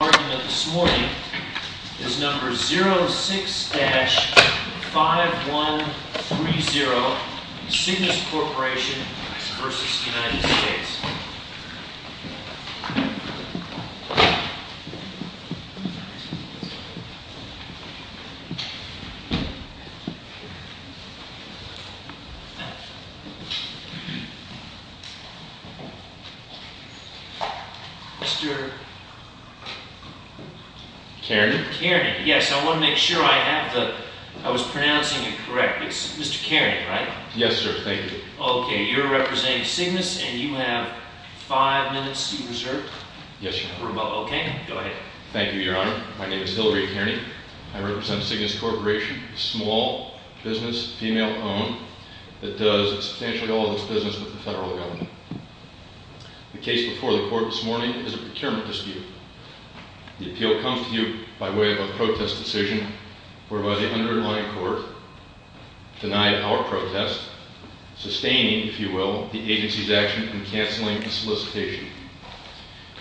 The argument this morning is number 06-5130, Cygnus Corp v. United States. Mr. Kearney? Yes, I want to make sure I have the... I was pronouncing it correct. It's Mr. Kearney, right? Yes, sir. Thank you. Okay, you're representing Cygnus, and you have five minutes reserved? Yes, Your Honor. Okay, go ahead. Thank you, Your Honor. My name is Hillary Kearney. I represent Cygnus Corporation, a small business, female-owned, that does substantially all of its business with the federal government. The case before the Court this morning is a procurement dispute. The appeal comes to you by way of a protest decision whereby the underlying court denied our protest, sustaining, if you will, the agency's action in canceling the solicitation.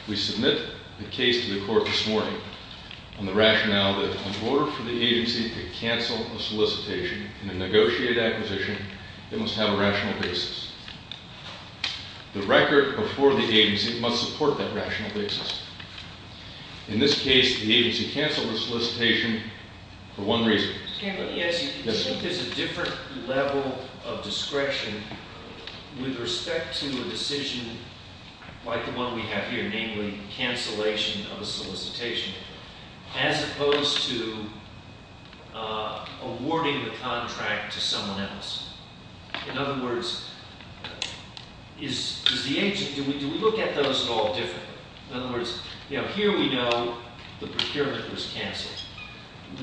We submit the case to the Court this morning on the rationale that in order for the agency to cancel a solicitation in a negotiated acquisition, it must have a rational basis. The record before the agency must support that rational basis. In this case, the agency canceled the solicitation for one reason. There's a different level of discretion with respect to a decision like the one we have here, namely cancellation of a solicitation, as opposed to awarding the contract to someone else. In other words, is the agency—do we look at those at all differently? In other words, here we know the procurement was canceled.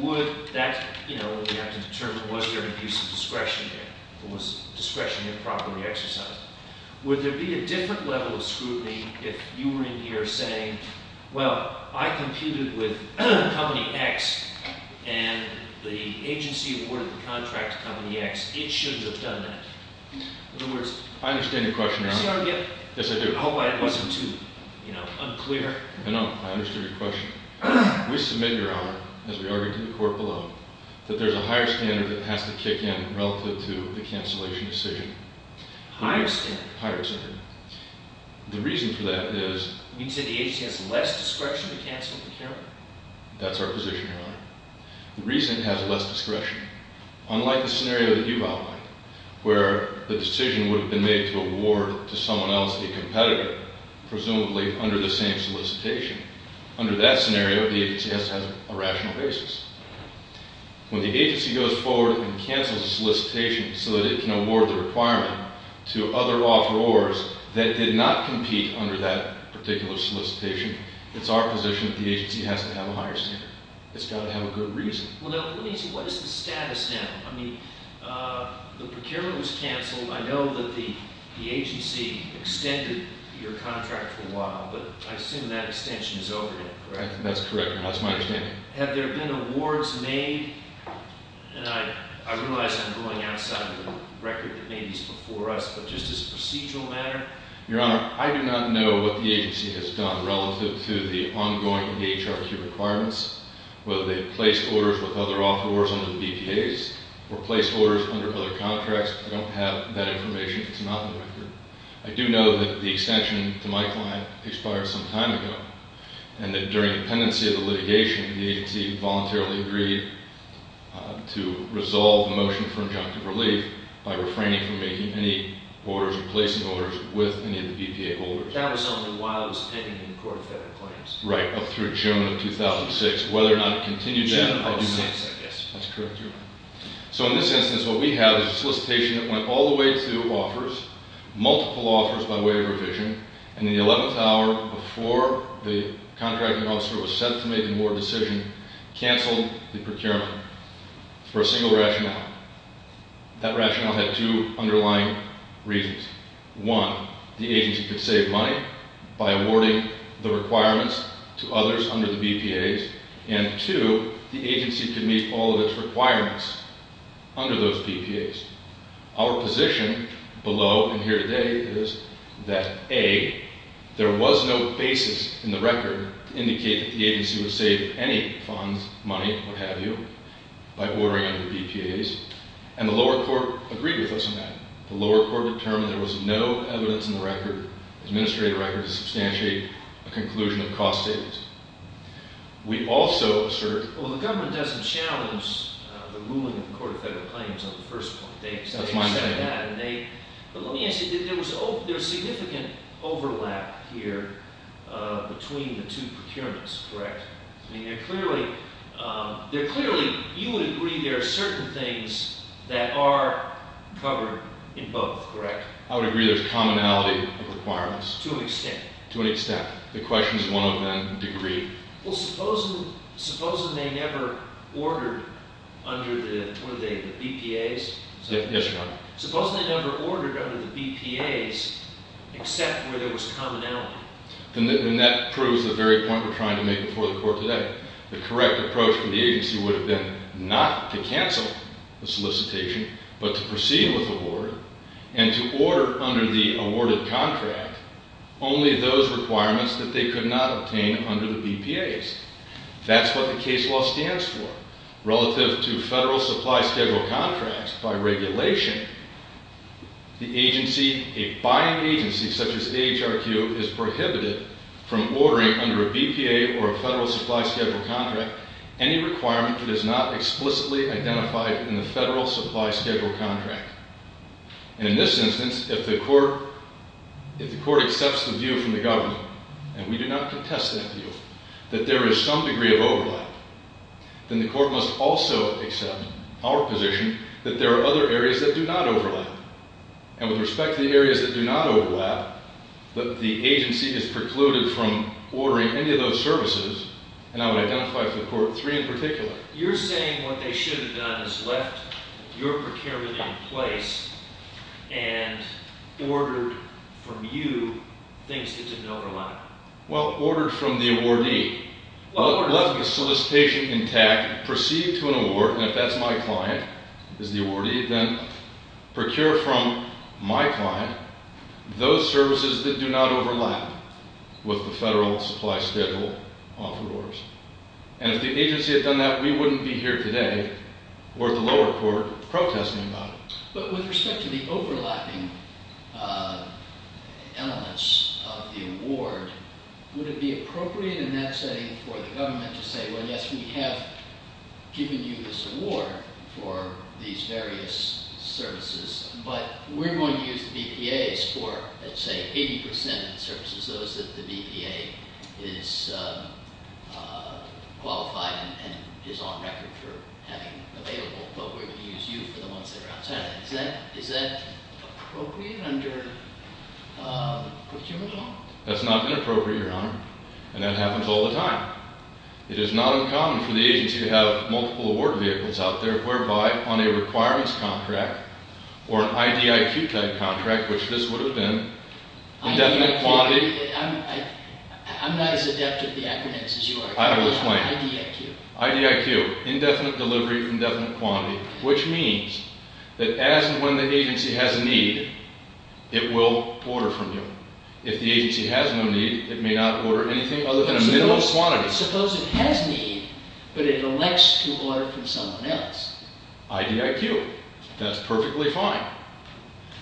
Would that—we have to determine was there an abuse of discretion here, or was discretion here properly exercised? Would there be a different level of scrutiny if you were in here saying, well, I computed with Company X and the agency awarded the contract to Company X. It shouldn't have done that. In other words— I understand your question, Your Honor. Yes, I do. I hope I wasn't too unclear. I know. I understood your question. We submit, Your Honor, as we argued to the Court below, that there's a higher standard that has to kick in relative to the cancellation decision. Higher standard? Higher standard. The reason for that is— You mean to say the agency has less discretion to cancel procurement? That's our position, Your Honor. The reason it has less discretion, unlike the scenario that you've outlined, where the decision would have been made to award to someone else the competitor, presumably under the same solicitation. Under that scenario, the agency has to have a rational basis. When the agency goes forward and cancels a solicitation so that it can award the requirement to other offerors that did not compete under that particular solicitation, it's our position that the agency has to have a higher standard. It's got to have a good reason. Well, now, let me see. What is the status now? I mean, the procurement was canceled. I know that the agency extended your contract for a while, but I assume that extension is over now, correct? That's correct, Your Honor. That's my understanding. Have there been awards made—and I realize I'm going outside the record that made these before us—but just as a procedural matter? Your Honor, I do not know what the agency has done relative to the ongoing EHRQ requirements, whether they've placed orders with other offerors under the BPAs or placed orders under other contracts. I don't have that information. It's not in the record. I do know that the extension to my client expired some time ago and that during the pendency of the litigation, the agency voluntarily agreed to resolve the motion for injunctive relief by refraining from making any orders or placing orders with any of the BPA holders. That was only while it was pending in the Court of Federal Claims. Right, up through June of 2006. Whether or not it continued then, I do not know. June of 2006, I guess. That's correct, Your Honor. So in this instance, what we have is a solicitation that went all the way to offers, multiple offers by way of revision, and in the eleventh hour before the contracting officer was set to make the award decision, canceled the procurement for a single rationale. That rationale had two underlying reasons. One, the agency could save money by awarding the requirements to others under the BPAs, and two, the agency could meet all of its requirements under those BPAs. Our position below and here today is that, A, there was no basis in the record to indicate that the agency would save any funds, money, what have you, by ordering under BPAs, and the lower court agreed with us on that. The lower court determined there was no evidence in the record, administrative record, to substantiate a conclusion of cost savings. Well, the government doesn't challenge the ruling of the Court of Federal Claims on the first point. That's my understanding. But let me ask you, there was significant overlap here between the two procurements, correct? I mean, they're clearly, you would agree there are certain things that are covered in both, correct? I would agree there's commonality of requirements. To an extent. To an extent. The questions, one of them, agreed. Well, supposing they never ordered under the, what are they, the BPAs? Yes, Your Honor. Supposing they never ordered under the BPAs except where there was commonality? And that proves the very point we're trying to make before the Court today. The correct approach from the agency would have been not to cancel the solicitation, but to proceed with the order, and to order under the awarded contract only those requirements that they could not obtain under the BPAs. That's what the case law stands for. Relative to Federal Supply Schedule contracts, by regulation, the agency, a buying agency such as AHRQ, is prohibited from ordering under a BPA or a Federal Supply Schedule contract any requirement that is not explicitly identified in the Federal Supply Schedule contract. And in this instance, if the Court accepts the view from the government, and we do not contest that view, that there is some degree of overlap, then the Court must also accept our position that there are other areas that do not overlap. And with respect to the areas that do not overlap, that the agency is precluded from ordering any of those services, and I would identify for the Court three in particular. You're saying what they should have done is left your procurement in place and ordered from you things that didn't overlap. Well, ordered from the awardee. Left the solicitation intact, proceed to an award, and if that's my client as the awardee, then procure from my client those services that do not overlap with the Federal Supply Schedule offer orders. And if the agency had done that, we wouldn't be here today or at the lower court protesting about it. But with respect to the overlapping elements of the award, would it be appropriate in that setting for the government to say, well, yes, we have given you this award for these various services, but we're going to use the BPAs for, let's say, 80% of the services, those that the BPA is qualified and is on record for having available. But we're going to use you for the ones that are outside. Is that appropriate under procurement law? That's not been appropriate, Your Honor, and that happens all the time. It is not uncommon for the agency to have multiple award vehicles out there whereby on a requirements contract or an IDIQ-type contract, which this would have been, indefinite quantity- I'm not as adept at the acronyms as you are. I will explain. IDIQ. IDIQ, indefinite delivery, indefinite quantity, which means that as and when the agency has a need, it will order from you. If the agency has no need, it may not order anything other than a minimum quantity. Suppose it has need, but it elects to order from someone else. IDIQ. That's perfectly fine.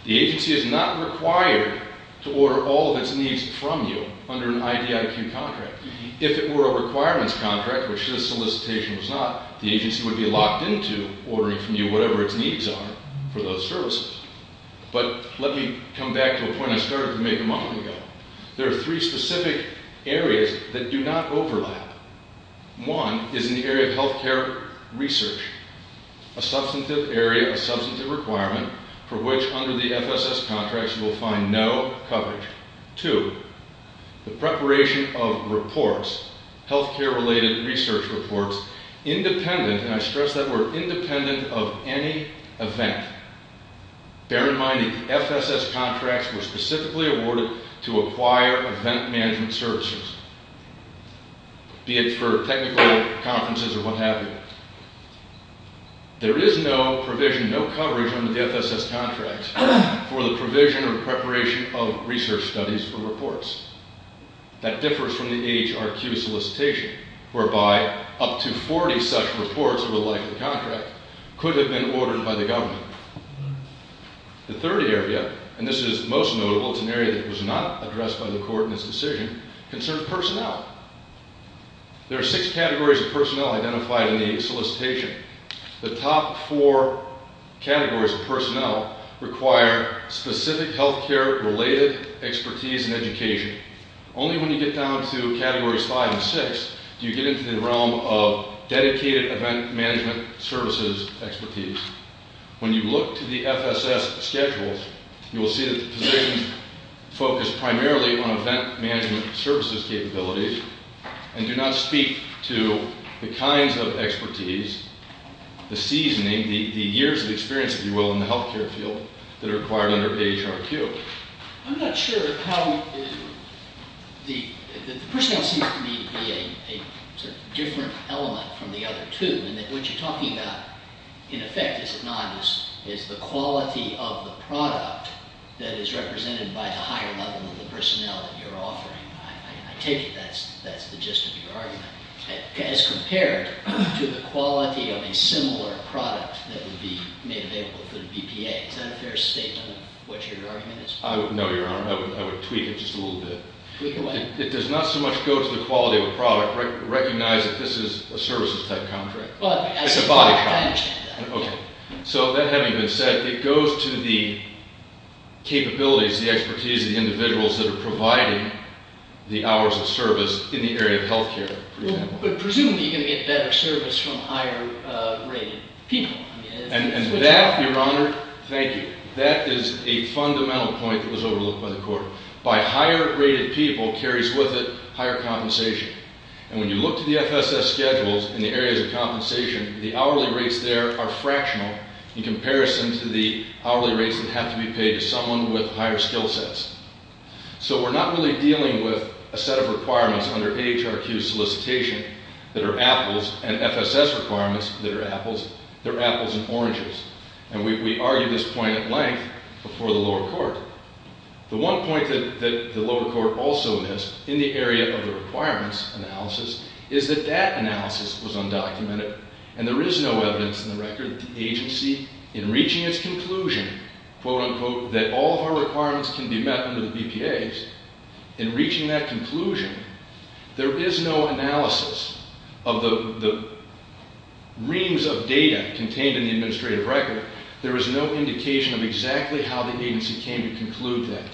The agency is not required to order all of its needs from you under an IDIQ contract. If it were a requirements contract, which this solicitation was not, the agency would be locked into ordering from you whatever its needs are for those services. But let me come back to a point I started to make a moment ago. There are three specific areas that do not overlap. One is in the area of health care research, a substantive area, a substantive requirement for which under the FSS contracts you will find no coverage. Two, the preparation of reports, health care-related research reports, independent, and I stress that word, independent of any event. Bear in mind the FSS contracts were specifically awarded to acquire event management services, be it for technical conferences or what have you. There is no provision, no coverage under the FSS contract for the provision or preparation of research studies for reports. That differs from the AHRQ solicitation, whereby up to 40 such reports over the life of the contract could have been ordered by the government. The third area, and this is most notable, it's an area that was not addressed by the court in its decision, concerned personnel. There are six categories of personnel identified in the solicitation. The top four categories of personnel require specific health care-related expertise and education. Only when you get down to categories five and six do you get into the realm of dedicated event management services expertise. When you look to the FSS schedules, you will see that the positions focus primarily on event management services capabilities and do not speak to the kinds of expertise, the seasoning, the years of experience, if you will, in the health care field that are required under AHRQ. I'm not sure how the personnel seems to me to be a different element from the other two, in that what you're talking about in effect, is it not, is the quality of the product that is represented by the higher level of the personnel that you're offering. I take it that's the gist of your argument, as compared to the quality of a similar product that would be made available through the BPA. Is that a fair statement of what your argument is? No, Your Honor. I would tweak it just a little bit. Tweak away. It does not so much go to the quality of a product, recognize that this is a services type contract. It's a body contract. I understand that. Okay. So that having been said, it goes to the capabilities, the expertise of the individuals that are providing the hours of service in the area of health care, for example. But presumably you're going to get better service from higher rated people. And that, Your Honor, thank you, that is a fundamental point that was overlooked by the court. By higher rated people carries with it higher compensation. And when you look to the FSS schedules in the areas of compensation, the hourly rates there are fractional in comparison to the hourly rates that have to be paid to someone with higher skill sets. So we're not really dealing with a set of requirements under AHRQ solicitation that are apples and FSS requirements that are apples. They're apples and oranges. And we argue this point at length before the lower court. The one point that the lower court also missed in the area of the requirements analysis is that that analysis was undocumented. And there is no evidence in the record that the agency in reaching its conclusion, quote, unquote, that all of our requirements can be met under the BPAs, in reaching that conclusion, there is no analysis of the reams of data contained in the administrative record. There is no indication of exactly how the agency came to conclude that.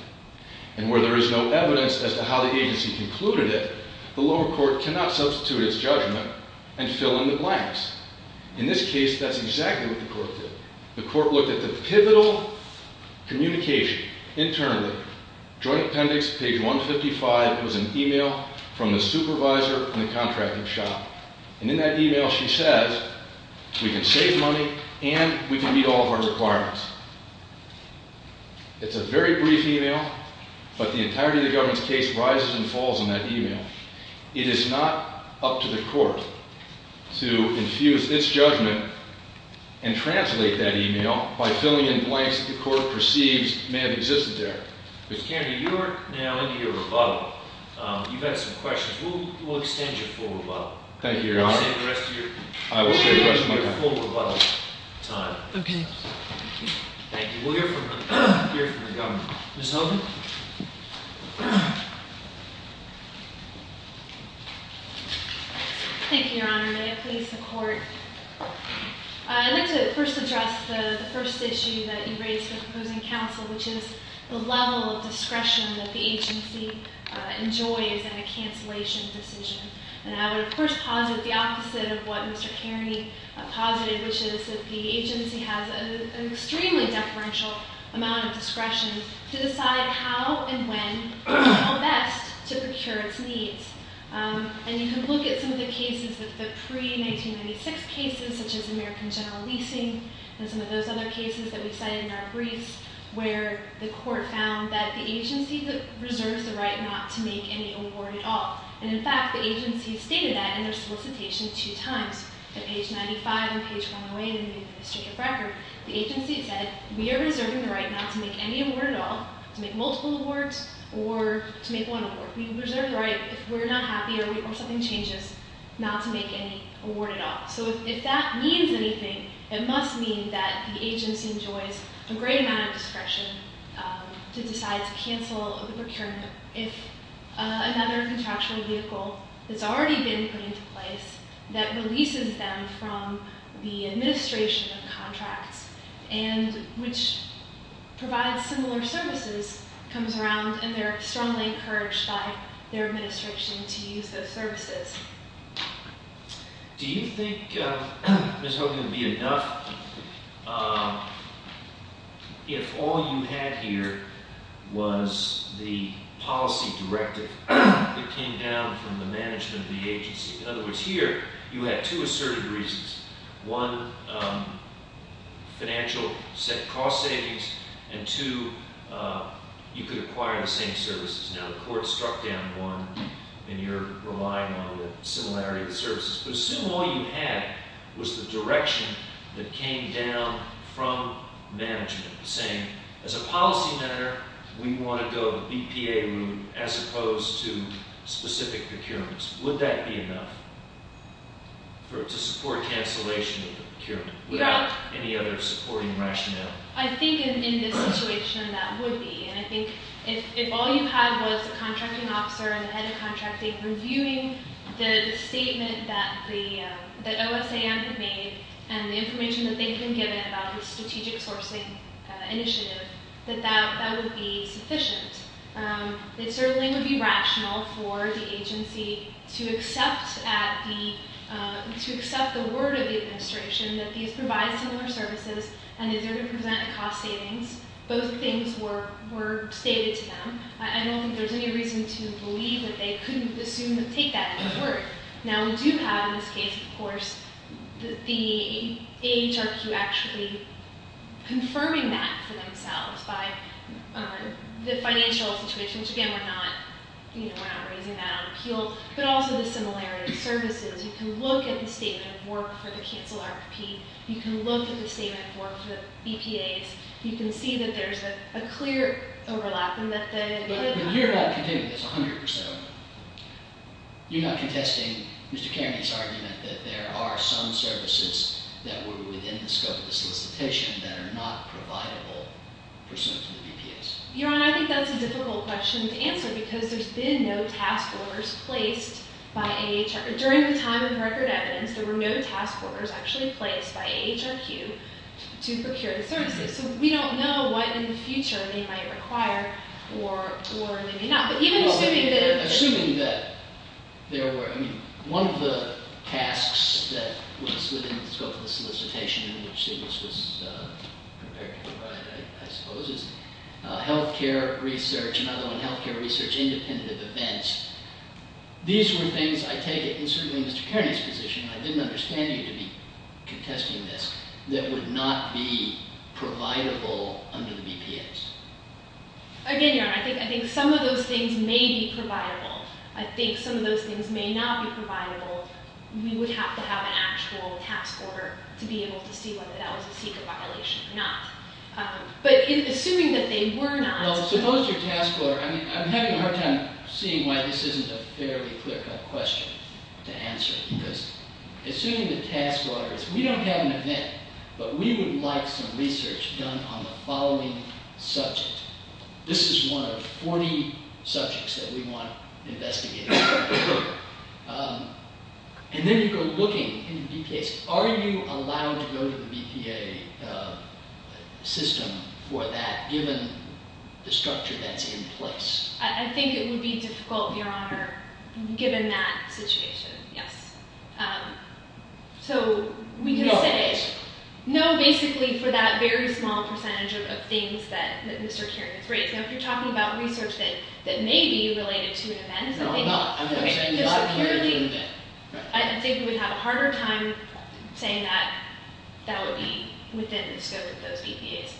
And where there is no evidence as to how the agency concluded it, the lower court cannot substitute its judgment and fill in the blanks. In this case, that's exactly what the court did. The court looked at the pivotal communication internally. Joint appendix, page 155, was an email from the supervisor in the contracting shop. And in that email, she says, we can save money and we can meet all of our requirements. It's a very brief email, but the entirety of the government's case rises and falls in that email. It is not up to the court to infuse its judgment and translate that email by filling in blanks that the court perceives may have existed there. Mr. Kennedy, you are now into your rebuttal. You've had some questions. We'll extend your full rebuttal. Thank you, Your Honor. We'll extend the rest of your full rebuttal time. Okay. Thank you. We'll hear from the government. Ms. Hogan? Thank you, Your Honor. May it please the court. I'd like to first address the first issue that you raised with opposing counsel, which is the level of discretion that the agency enjoys in a cancellation decision. And I would, of course, posit the opposite of what Mr. Kerney posited, which is that the agency has an extremely deferential amount of discretion to decide how and when is best to procure its needs. And you can look at some of the cases, the pre-1996 cases, such as American General Leasing and some of those other cases that we cited in our briefs, where the court found that the agency reserves the right not to make any award at all. And, in fact, the agency stated that in their solicitation two times, at page 95 and page 108 in the district of record. The agency said, we are reserving the right not to make any award at all, to make multiple awards, or to make one award. We reserve the right if we're not happy or something changes not to make any award at all. So if that means anything, it must mean that the agency enjoys a great amount of discretion to decide to cancel the procurement. If another contractual vehicle that's already been put into place that releases them from the administration of contracts, and which provides similar services, comes around and they're strongly encouraged by their administration to use those services. Do you think, Ms. Hogan, it would be enough if all you had here was the policy directive that came down from the management of the agency? In other words, here, you had two asserted reasons. One, financial cost savings, and two, you could acquire the same services. Now, the court struck down one, and you're relying on the similarity of the services. But assume all you had was the direction that came down from management, saying, as a policy matter, we want to go the BPA route as opposed to specific procurements. Would that be enough to support cancellation of the procurement without any other supporting rationale? I think in this situation, that would be. And I think if all you had was the contracting officer and the head of contracting reviewing the statement that OSAM had made and the information that they had been given about the strategic sourcing initiative, that that would be sufficient. It certainly would be rational for the agency to accept the word of the administration that these provide similar services, and that they're going to present a cost savings. Both things were stated to them. I don't think there's any reason to believe that they couldn't assume and take that as a word. Now, we do have in this case, of course, the AHRQ actually confirming that for themselves by the financial situation, which, again, we're not raising that on appeal, but also the similarity of services. You can look at the statement of work for the cancel RFP. You can look at the statement of work for the BPAs. You can see that there's a clear overlap and that the head of contracting— But you're not contending with this 100%. You're not contesting Mr. Kennedy's argument that there are some services that were within the scope of the solicitation that are not providable pursuant to the BPAs. Your Honor, I think that's a difficult question to answer because there's been no task orders placed by AHRQ. During the time of record evidence, there were no task orders actually placed by AHRQ to procure the services. So we don't know what in the future they might require or they may not. But even assuming that— Well, assuming that there were—I mean, one of the tasks that was within the scope of the solicitation in which this was prepared to provide, I suppose, is health care research, another one, health care research, These were things, I take it, and certainly in Mr. Kennedy's position, I didn't understand you to be contesting this, that would not be providable under the BPAs. Again, Your Honor, I think some of those things may be providable. I think some of those things may not be providable. We would have to have an actual task order to be able to see whether that was a secret violation or not. But assuming that they were not— Well, suppose your task order—I mean, I'm having a hard time seeing why this isn't a fairly clear-cut question to answer. Because assuming the task order is, we don't have an event, but we would like some research done on the following subject. This is one of 40 subjects that we want investigated. And then you go looking in the BPAs. Are you allowed to go to the BPA system for that, given the structure that's in place? I think it would be difficult, Your Honor, given that situation, yes. So, we can say— No, basically. No, basically, for that very small percentage of things that Mr. Kerrigan's raised. Now, if you're talking about research that may be related to an event— No, I'm not. I'm not saying you ought to be doing that. I think we would have a harder time saying that that would be within the scope of those BPAs,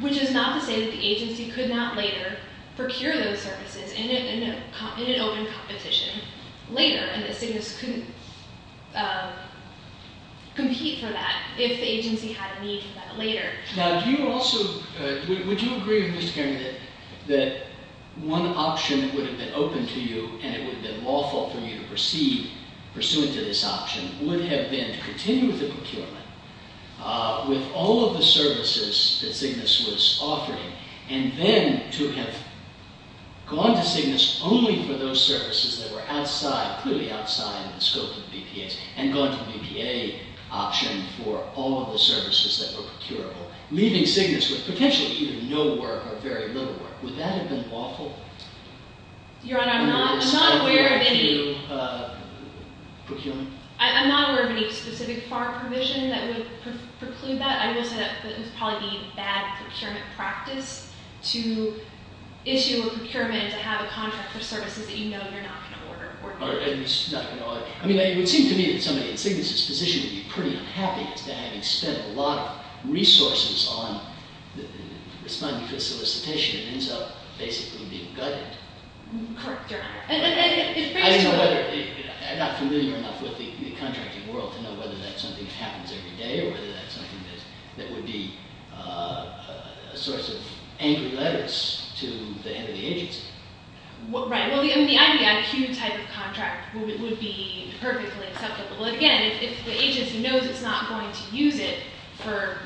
which is not to say that the agency could not later procure those services in an open competition later and that CYGNSS couldn't compete for that if the agency had a need for that later. Now, do you also—would you agree, Mr. Kerrigan, that one option that would have been open to you and it would have been lawful for you to proceed pursuant to this option would have been to continue with the procurement with all of the services that CYGNSS was offering and then to have gone to CYGNSS only for those services that were clearly outside the scope of the BPAs and for all of the services that were procurable, leaving CYGNSS with potentially either no work or very little work? Would that have been lawful? Your Honor, I'm not aware of any specific FAR provision that would preclude that. I will say that it was probably the bad procurement practice to issue a procurement to have a contract for services that you know you're not going to order. I mean, it would seem to me that somebody in CYGNSS's position would be pretty unhappy as to having spent a lot of resources on responding to the solicitation and ends up basically being gutted. Correct, Your Honor. I'm not familiar enough with the contracting world to know whether that's something that happens every day or whether that's something that would be a source of angry letters to the head of the agency. Right. Well, the IVIQ type of contract would be perfectly acceptable. Again, if the agency knows it's not going to use it for,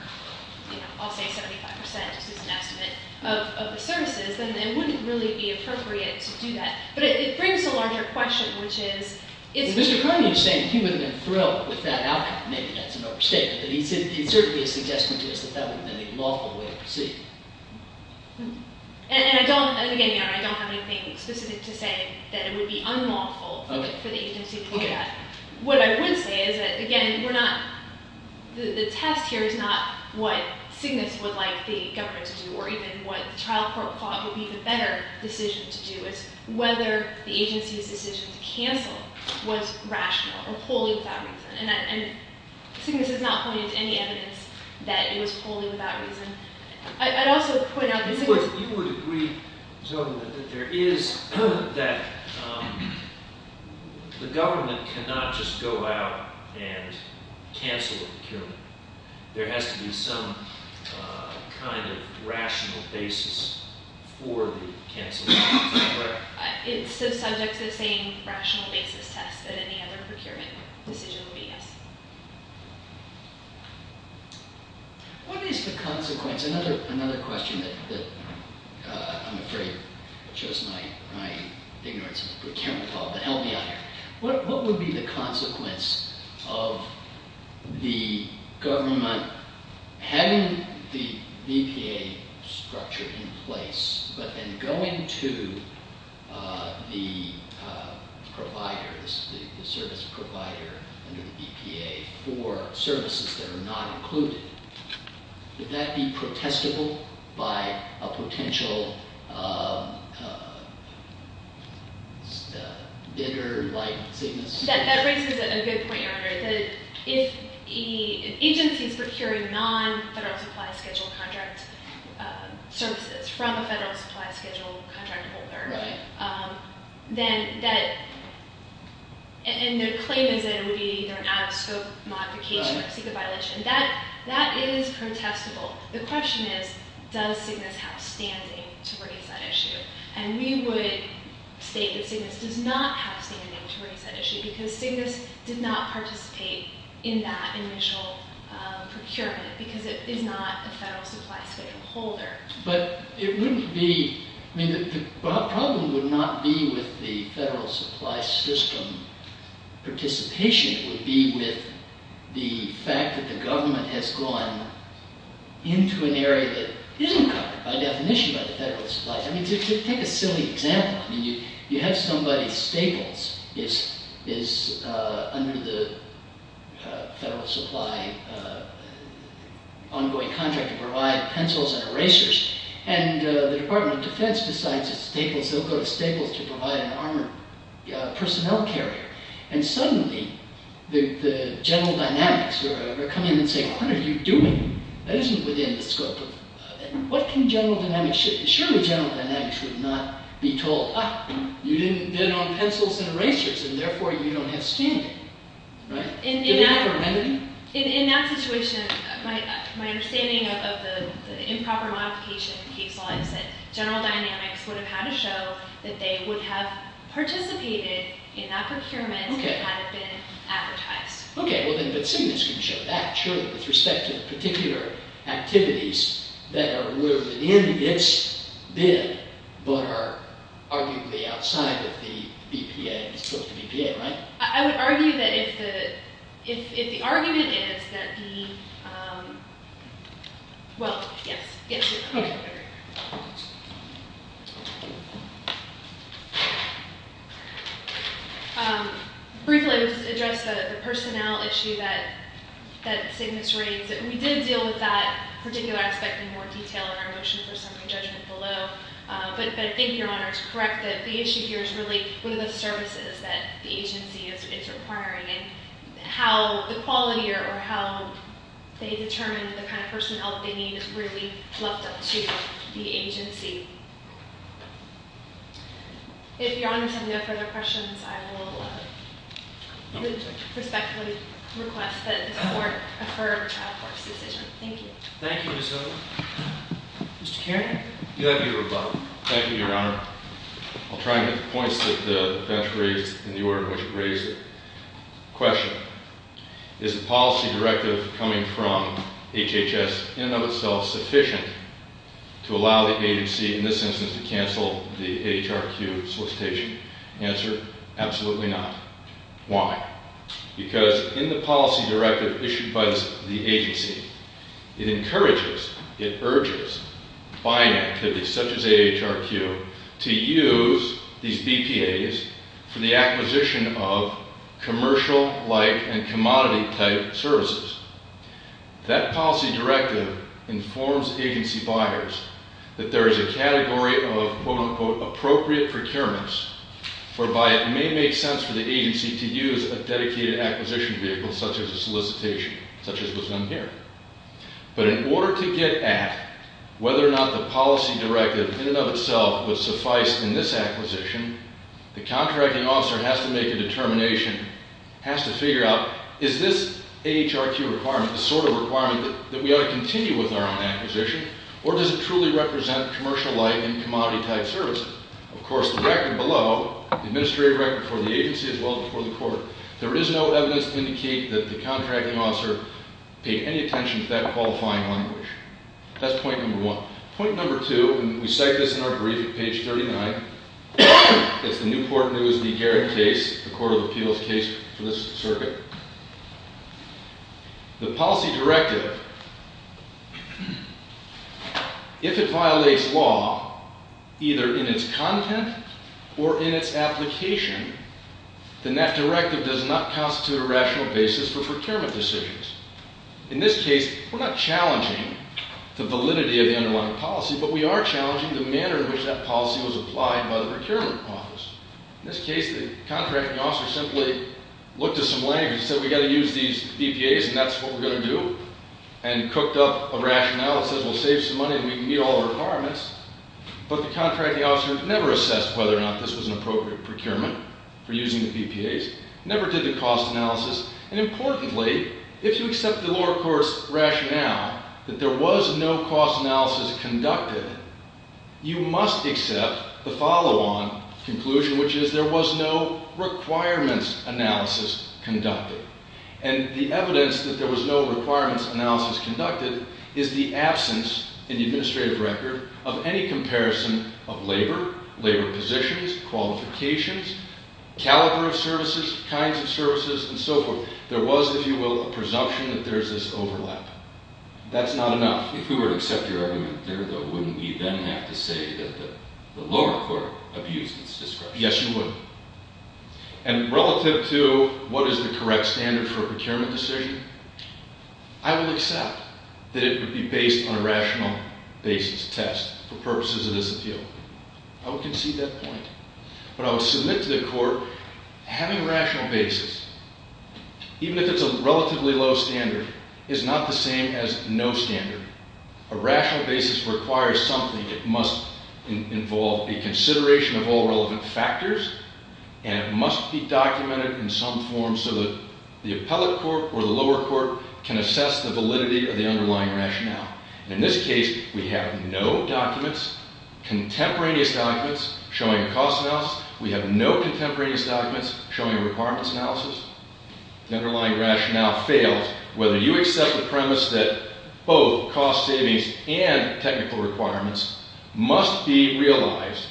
I'll say, 75 percent, which is an estimate, of the services, then it wouldn't really be appropriate to do that. But it brings a larger question, which is… Mr. Carney is saying he wouldn't have been thrilled with that outcome. Maybe that's an overstatement. But it's certainly a suggestion to us that that wouldn't have been a lawful way to proceed. And again, Your Honor, I don't have anything specific to say that it would be unlawful for the agency to do that. What I would say is that, again, the test here is not what CYGNSS would like the government to do or even what the trial court thought would be the better decision to do. It's whether the agency's decision to cancel was rational or wholly without reason. And CYGNSS has not pointed to any evidence that it was wholly without reason. I'd also point out that… You would agree, Judge, that there is – that the government cannot just go out and cancel the procurement. There has to be some kind of rational basis for the cancellation. It's subject to the same rational basis test that any other procurement decision would be, yes. What is the consequence? Another question that I'm afraid shows my ignorance of the procurement law, but help me out here. What would be the consequence of the government having the BPA structure in place but then going to the providers, the service provider under the BPA for services that are not included? Would that be protestable by a potential bidder like CYGNSS? That raises a good point, Your Honor. If an agency is procuring non-Federal Supply Schedule contract services from a Federal Supply Schedule contract holder, and their claim is that it would be either an out-of-scope modification or a CECA violation, that is protestable. The question is, does CYGNSS have standing to raise that issue? And we would state that CYGNSS does not have standing to raise that issue because CYGNSS did not participate in that initial procurement because it is not a Federal Supply Schedule holder. But it wouldn't be, I mean, the problem would not be with the Federal Supply System participation. It would be with the fact that the government has gone into an area that isn't covered by definition by the Federal Supply. I mean, take a silly example. I mean, you have somebody, Staples, is under the Federal Supply ongoing contract to provide pencils and erasers. And the Department of Defense decides that Staples, they'll go to Staples to provide an armored personnel carrier. And suddenly, the general dynamics are coming and saying, what are you doing? That isn't within the scope of, what can general dynamics, surely general dynamics would not be told, ah, you didn't bid on pencils and erasers, and therefore you don't have standing, right? In that situation, my understanding of the improper modification case law is that general dynamics would have had to show that they would have participated in that procurement had it been advertised. Okay, well then, but Simmons can show that, surely, with respect to the particular activities that are within its bid but are arguably outside of the BPA, it's supposed to be BPA, right? I would argue that if the argument is that the, well, yes, yes. Okay. Thank you. Briefly, I would just address the personnel issue that Simmons raised. We did deal with that particular aspect in more detail in our motion for summary judgment below. But I think your Honor is correct that the issue here is really one of the services that the agency is requiring and how the quality or how they determine the kind of personnel that they need is really left up to the agency. If Your Honor has any further questions, I will respectfully request that this court defer a trial court's decision. Thank you. Thank you, Ms. Hiller. Mr. Caron? You have your rebuttal. Thank you, Your Honor. I'll try and get the points that the bench raised in the order in which it raised it. Question. Is the policy directive coming from HHS in and of itself sufficient to allow the agency, in this instance, to cancel the AHRQ solicitation? Answer. Absolutely not. Why? Because in the policy directive issued by the agency, it encourages, it urges buying activities such as AHRQ to use these BPAs for the acquisition of commercial-like and commodity-type services. That policy directive informs agency buyers that there is a category of, quote-unquote, appropriate procurements whereby it may make sense for the agency to use a dedicated acquisition vehicle such as a solicitation, such as was done here. But in order to get at whether or not the policy directive in and of itself would suffice in this acquisition, the contracting officer has to make a determination, has to figure out, is this AHRQ requirement the sort of requirement that we ought to continue with our own acquisition, or does it truly represent commercial-like and commodity-type services? Of course, the record below, the administrative record for the agency as well as for the court, there is no evidence to indicate that the contracting officer paid any attention to that qualifying language. That's point number one. Point number two, and we cite this in our brief at page 39, it's the Newport News v. Garrett case, the court of appeals case for this circuit. The policy directive, if it violates law, either in its content or in its application, then that directive does not constitute a rational basis for procurement decisions. In this case, we're not challenging the validity of the underlying policy, but we are challenging the manner in which that policy was applied by the procurement office. In this case, the contracting officer simply looked at some language and said, we've got to use these BPAs, and that's what we're going to do, and cooked up a rationale and said, well, save some money and we can meet all the requirements. But the contracting officer never assessed whether or not this was an appropriate procurement for using the BPAs, never did the cost analysis. And importantly, if you accept the lower course rationale that there was no cost analysis conducted, you must accept the follow-on conclusion, which is there was no requirements analysis conducted. And the evidence that there was no requirements analysis conducted is the absence in the administrative record of any comparison of labor, labor positions, qualifications, caliber of services, kinds of services, and so forth. There was, if you will, a presumption that there's this overlap. That's not enough. If we were to accept your argument there, though, wouldn't we then have to say that the lower court abused its discretion? Yes, you would. And relative to what is the correct standard for a procurement decision, I would accept that it would be based on a rational basis test for purposes of this appeal. I would concede that point. But I would submit to the court having a rational basis, even if it's a relatively low standard, is not the same as no standard. A rational basis requires something. It must involve a consideration of all relevant factors, and it must be documented in some form so that the appellate court or the lower court can assess the validity of the underlying rationale. And in this case, we have no documents, contemporaneous documents, showing a cost analysis. We have no contemporaneous documents showing a requirements analysis. The underlying rationale fails whether you accept the premise that both cost savings and technical requirements must be realized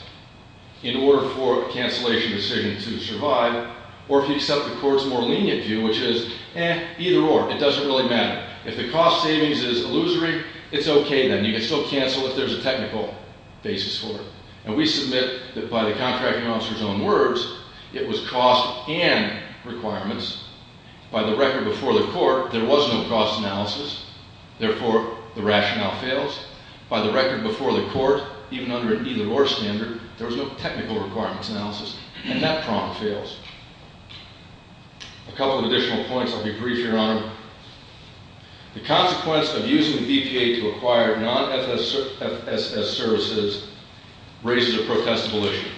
in order for a cancellation decision to survive, or if you accept the court's more lenient view, which is, eh, either or. It doesn't really matter. If the cost savings is illusory, it's okay then. You can still cancel if there's a technical basis for it. And we submit that by the contracting officer's own words, it was cost and requirements. By the record before the court, there was no cost analysis. Therefore, the rationale fails. By the record before the court, even under an either or standard, there was no technical requirements analysis. And that problem fails. A couple of additional points. I'll be brief, Your Honor. The consequence of using the BPA to acquire non-FSS services raises a protestable issue.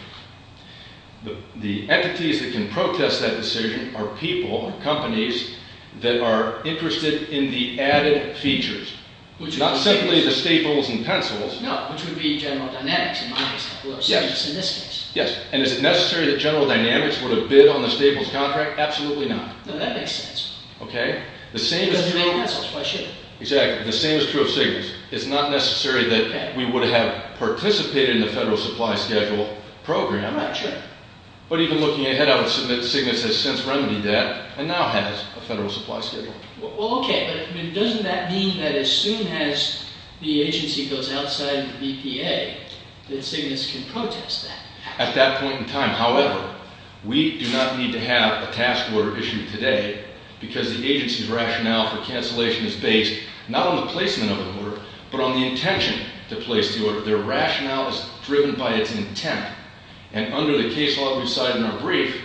The entities that can protest that decision are people or companies that are interested in the added features, not simply the staples and pencils. No, which would be general dynamics in my case. Yes. In this case. Yes. And is it necessary that general dynamics would have bid on the staples contract? Absolutely not. No, that makes sense. Okay. The same is true of Signus. Why should it? Exactly. The same is true of Signus. It's not necessary that we would have participated in the federal supply schedule program. I'm not sure. But even looking ahead, I would submit Signus has since remedied that and now has a federal supply schedule. Well, okay. But doesn't that mean that as soon as the agency goes outside the BPA, that Signus can protest that? At that point in time. However, we do not need to have a task order issued today because the agency's rationale for cancellation is based not on the placement of the order, but on the intention to place the order. Their rationale is driven by its intent. And under the case law we cited in our brief,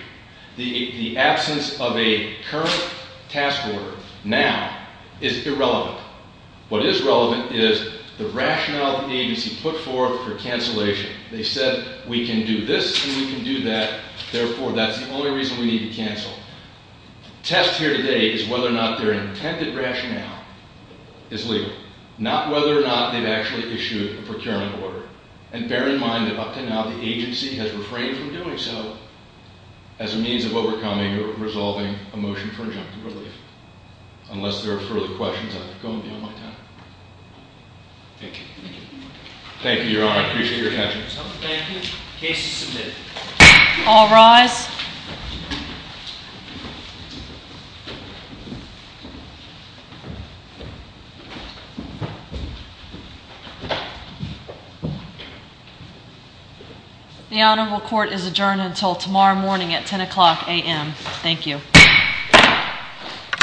the absence of a current task order now is irrelevant. What is relevant is the rationale the agency put forth for cancellation. They said we can do this and we can do that. Therefore, that's the only reason we need to cancel. The test here today is whether or not their intended rationale is legal. Not whether or not they've actually issued a procurement order. And bear in mind that up to now the agency has refrained from doing so as a means of overcoming or resolving a motion for injunctive relief. Unless there are further questions, I'm going to be on my time. Thank you. Thank you, Your Honor. I appreciate your attention. Thank you. Case is submitted. All rise. The honorable court is adjourned until tomorrow morning at 10 o'clock a.m. Thank you.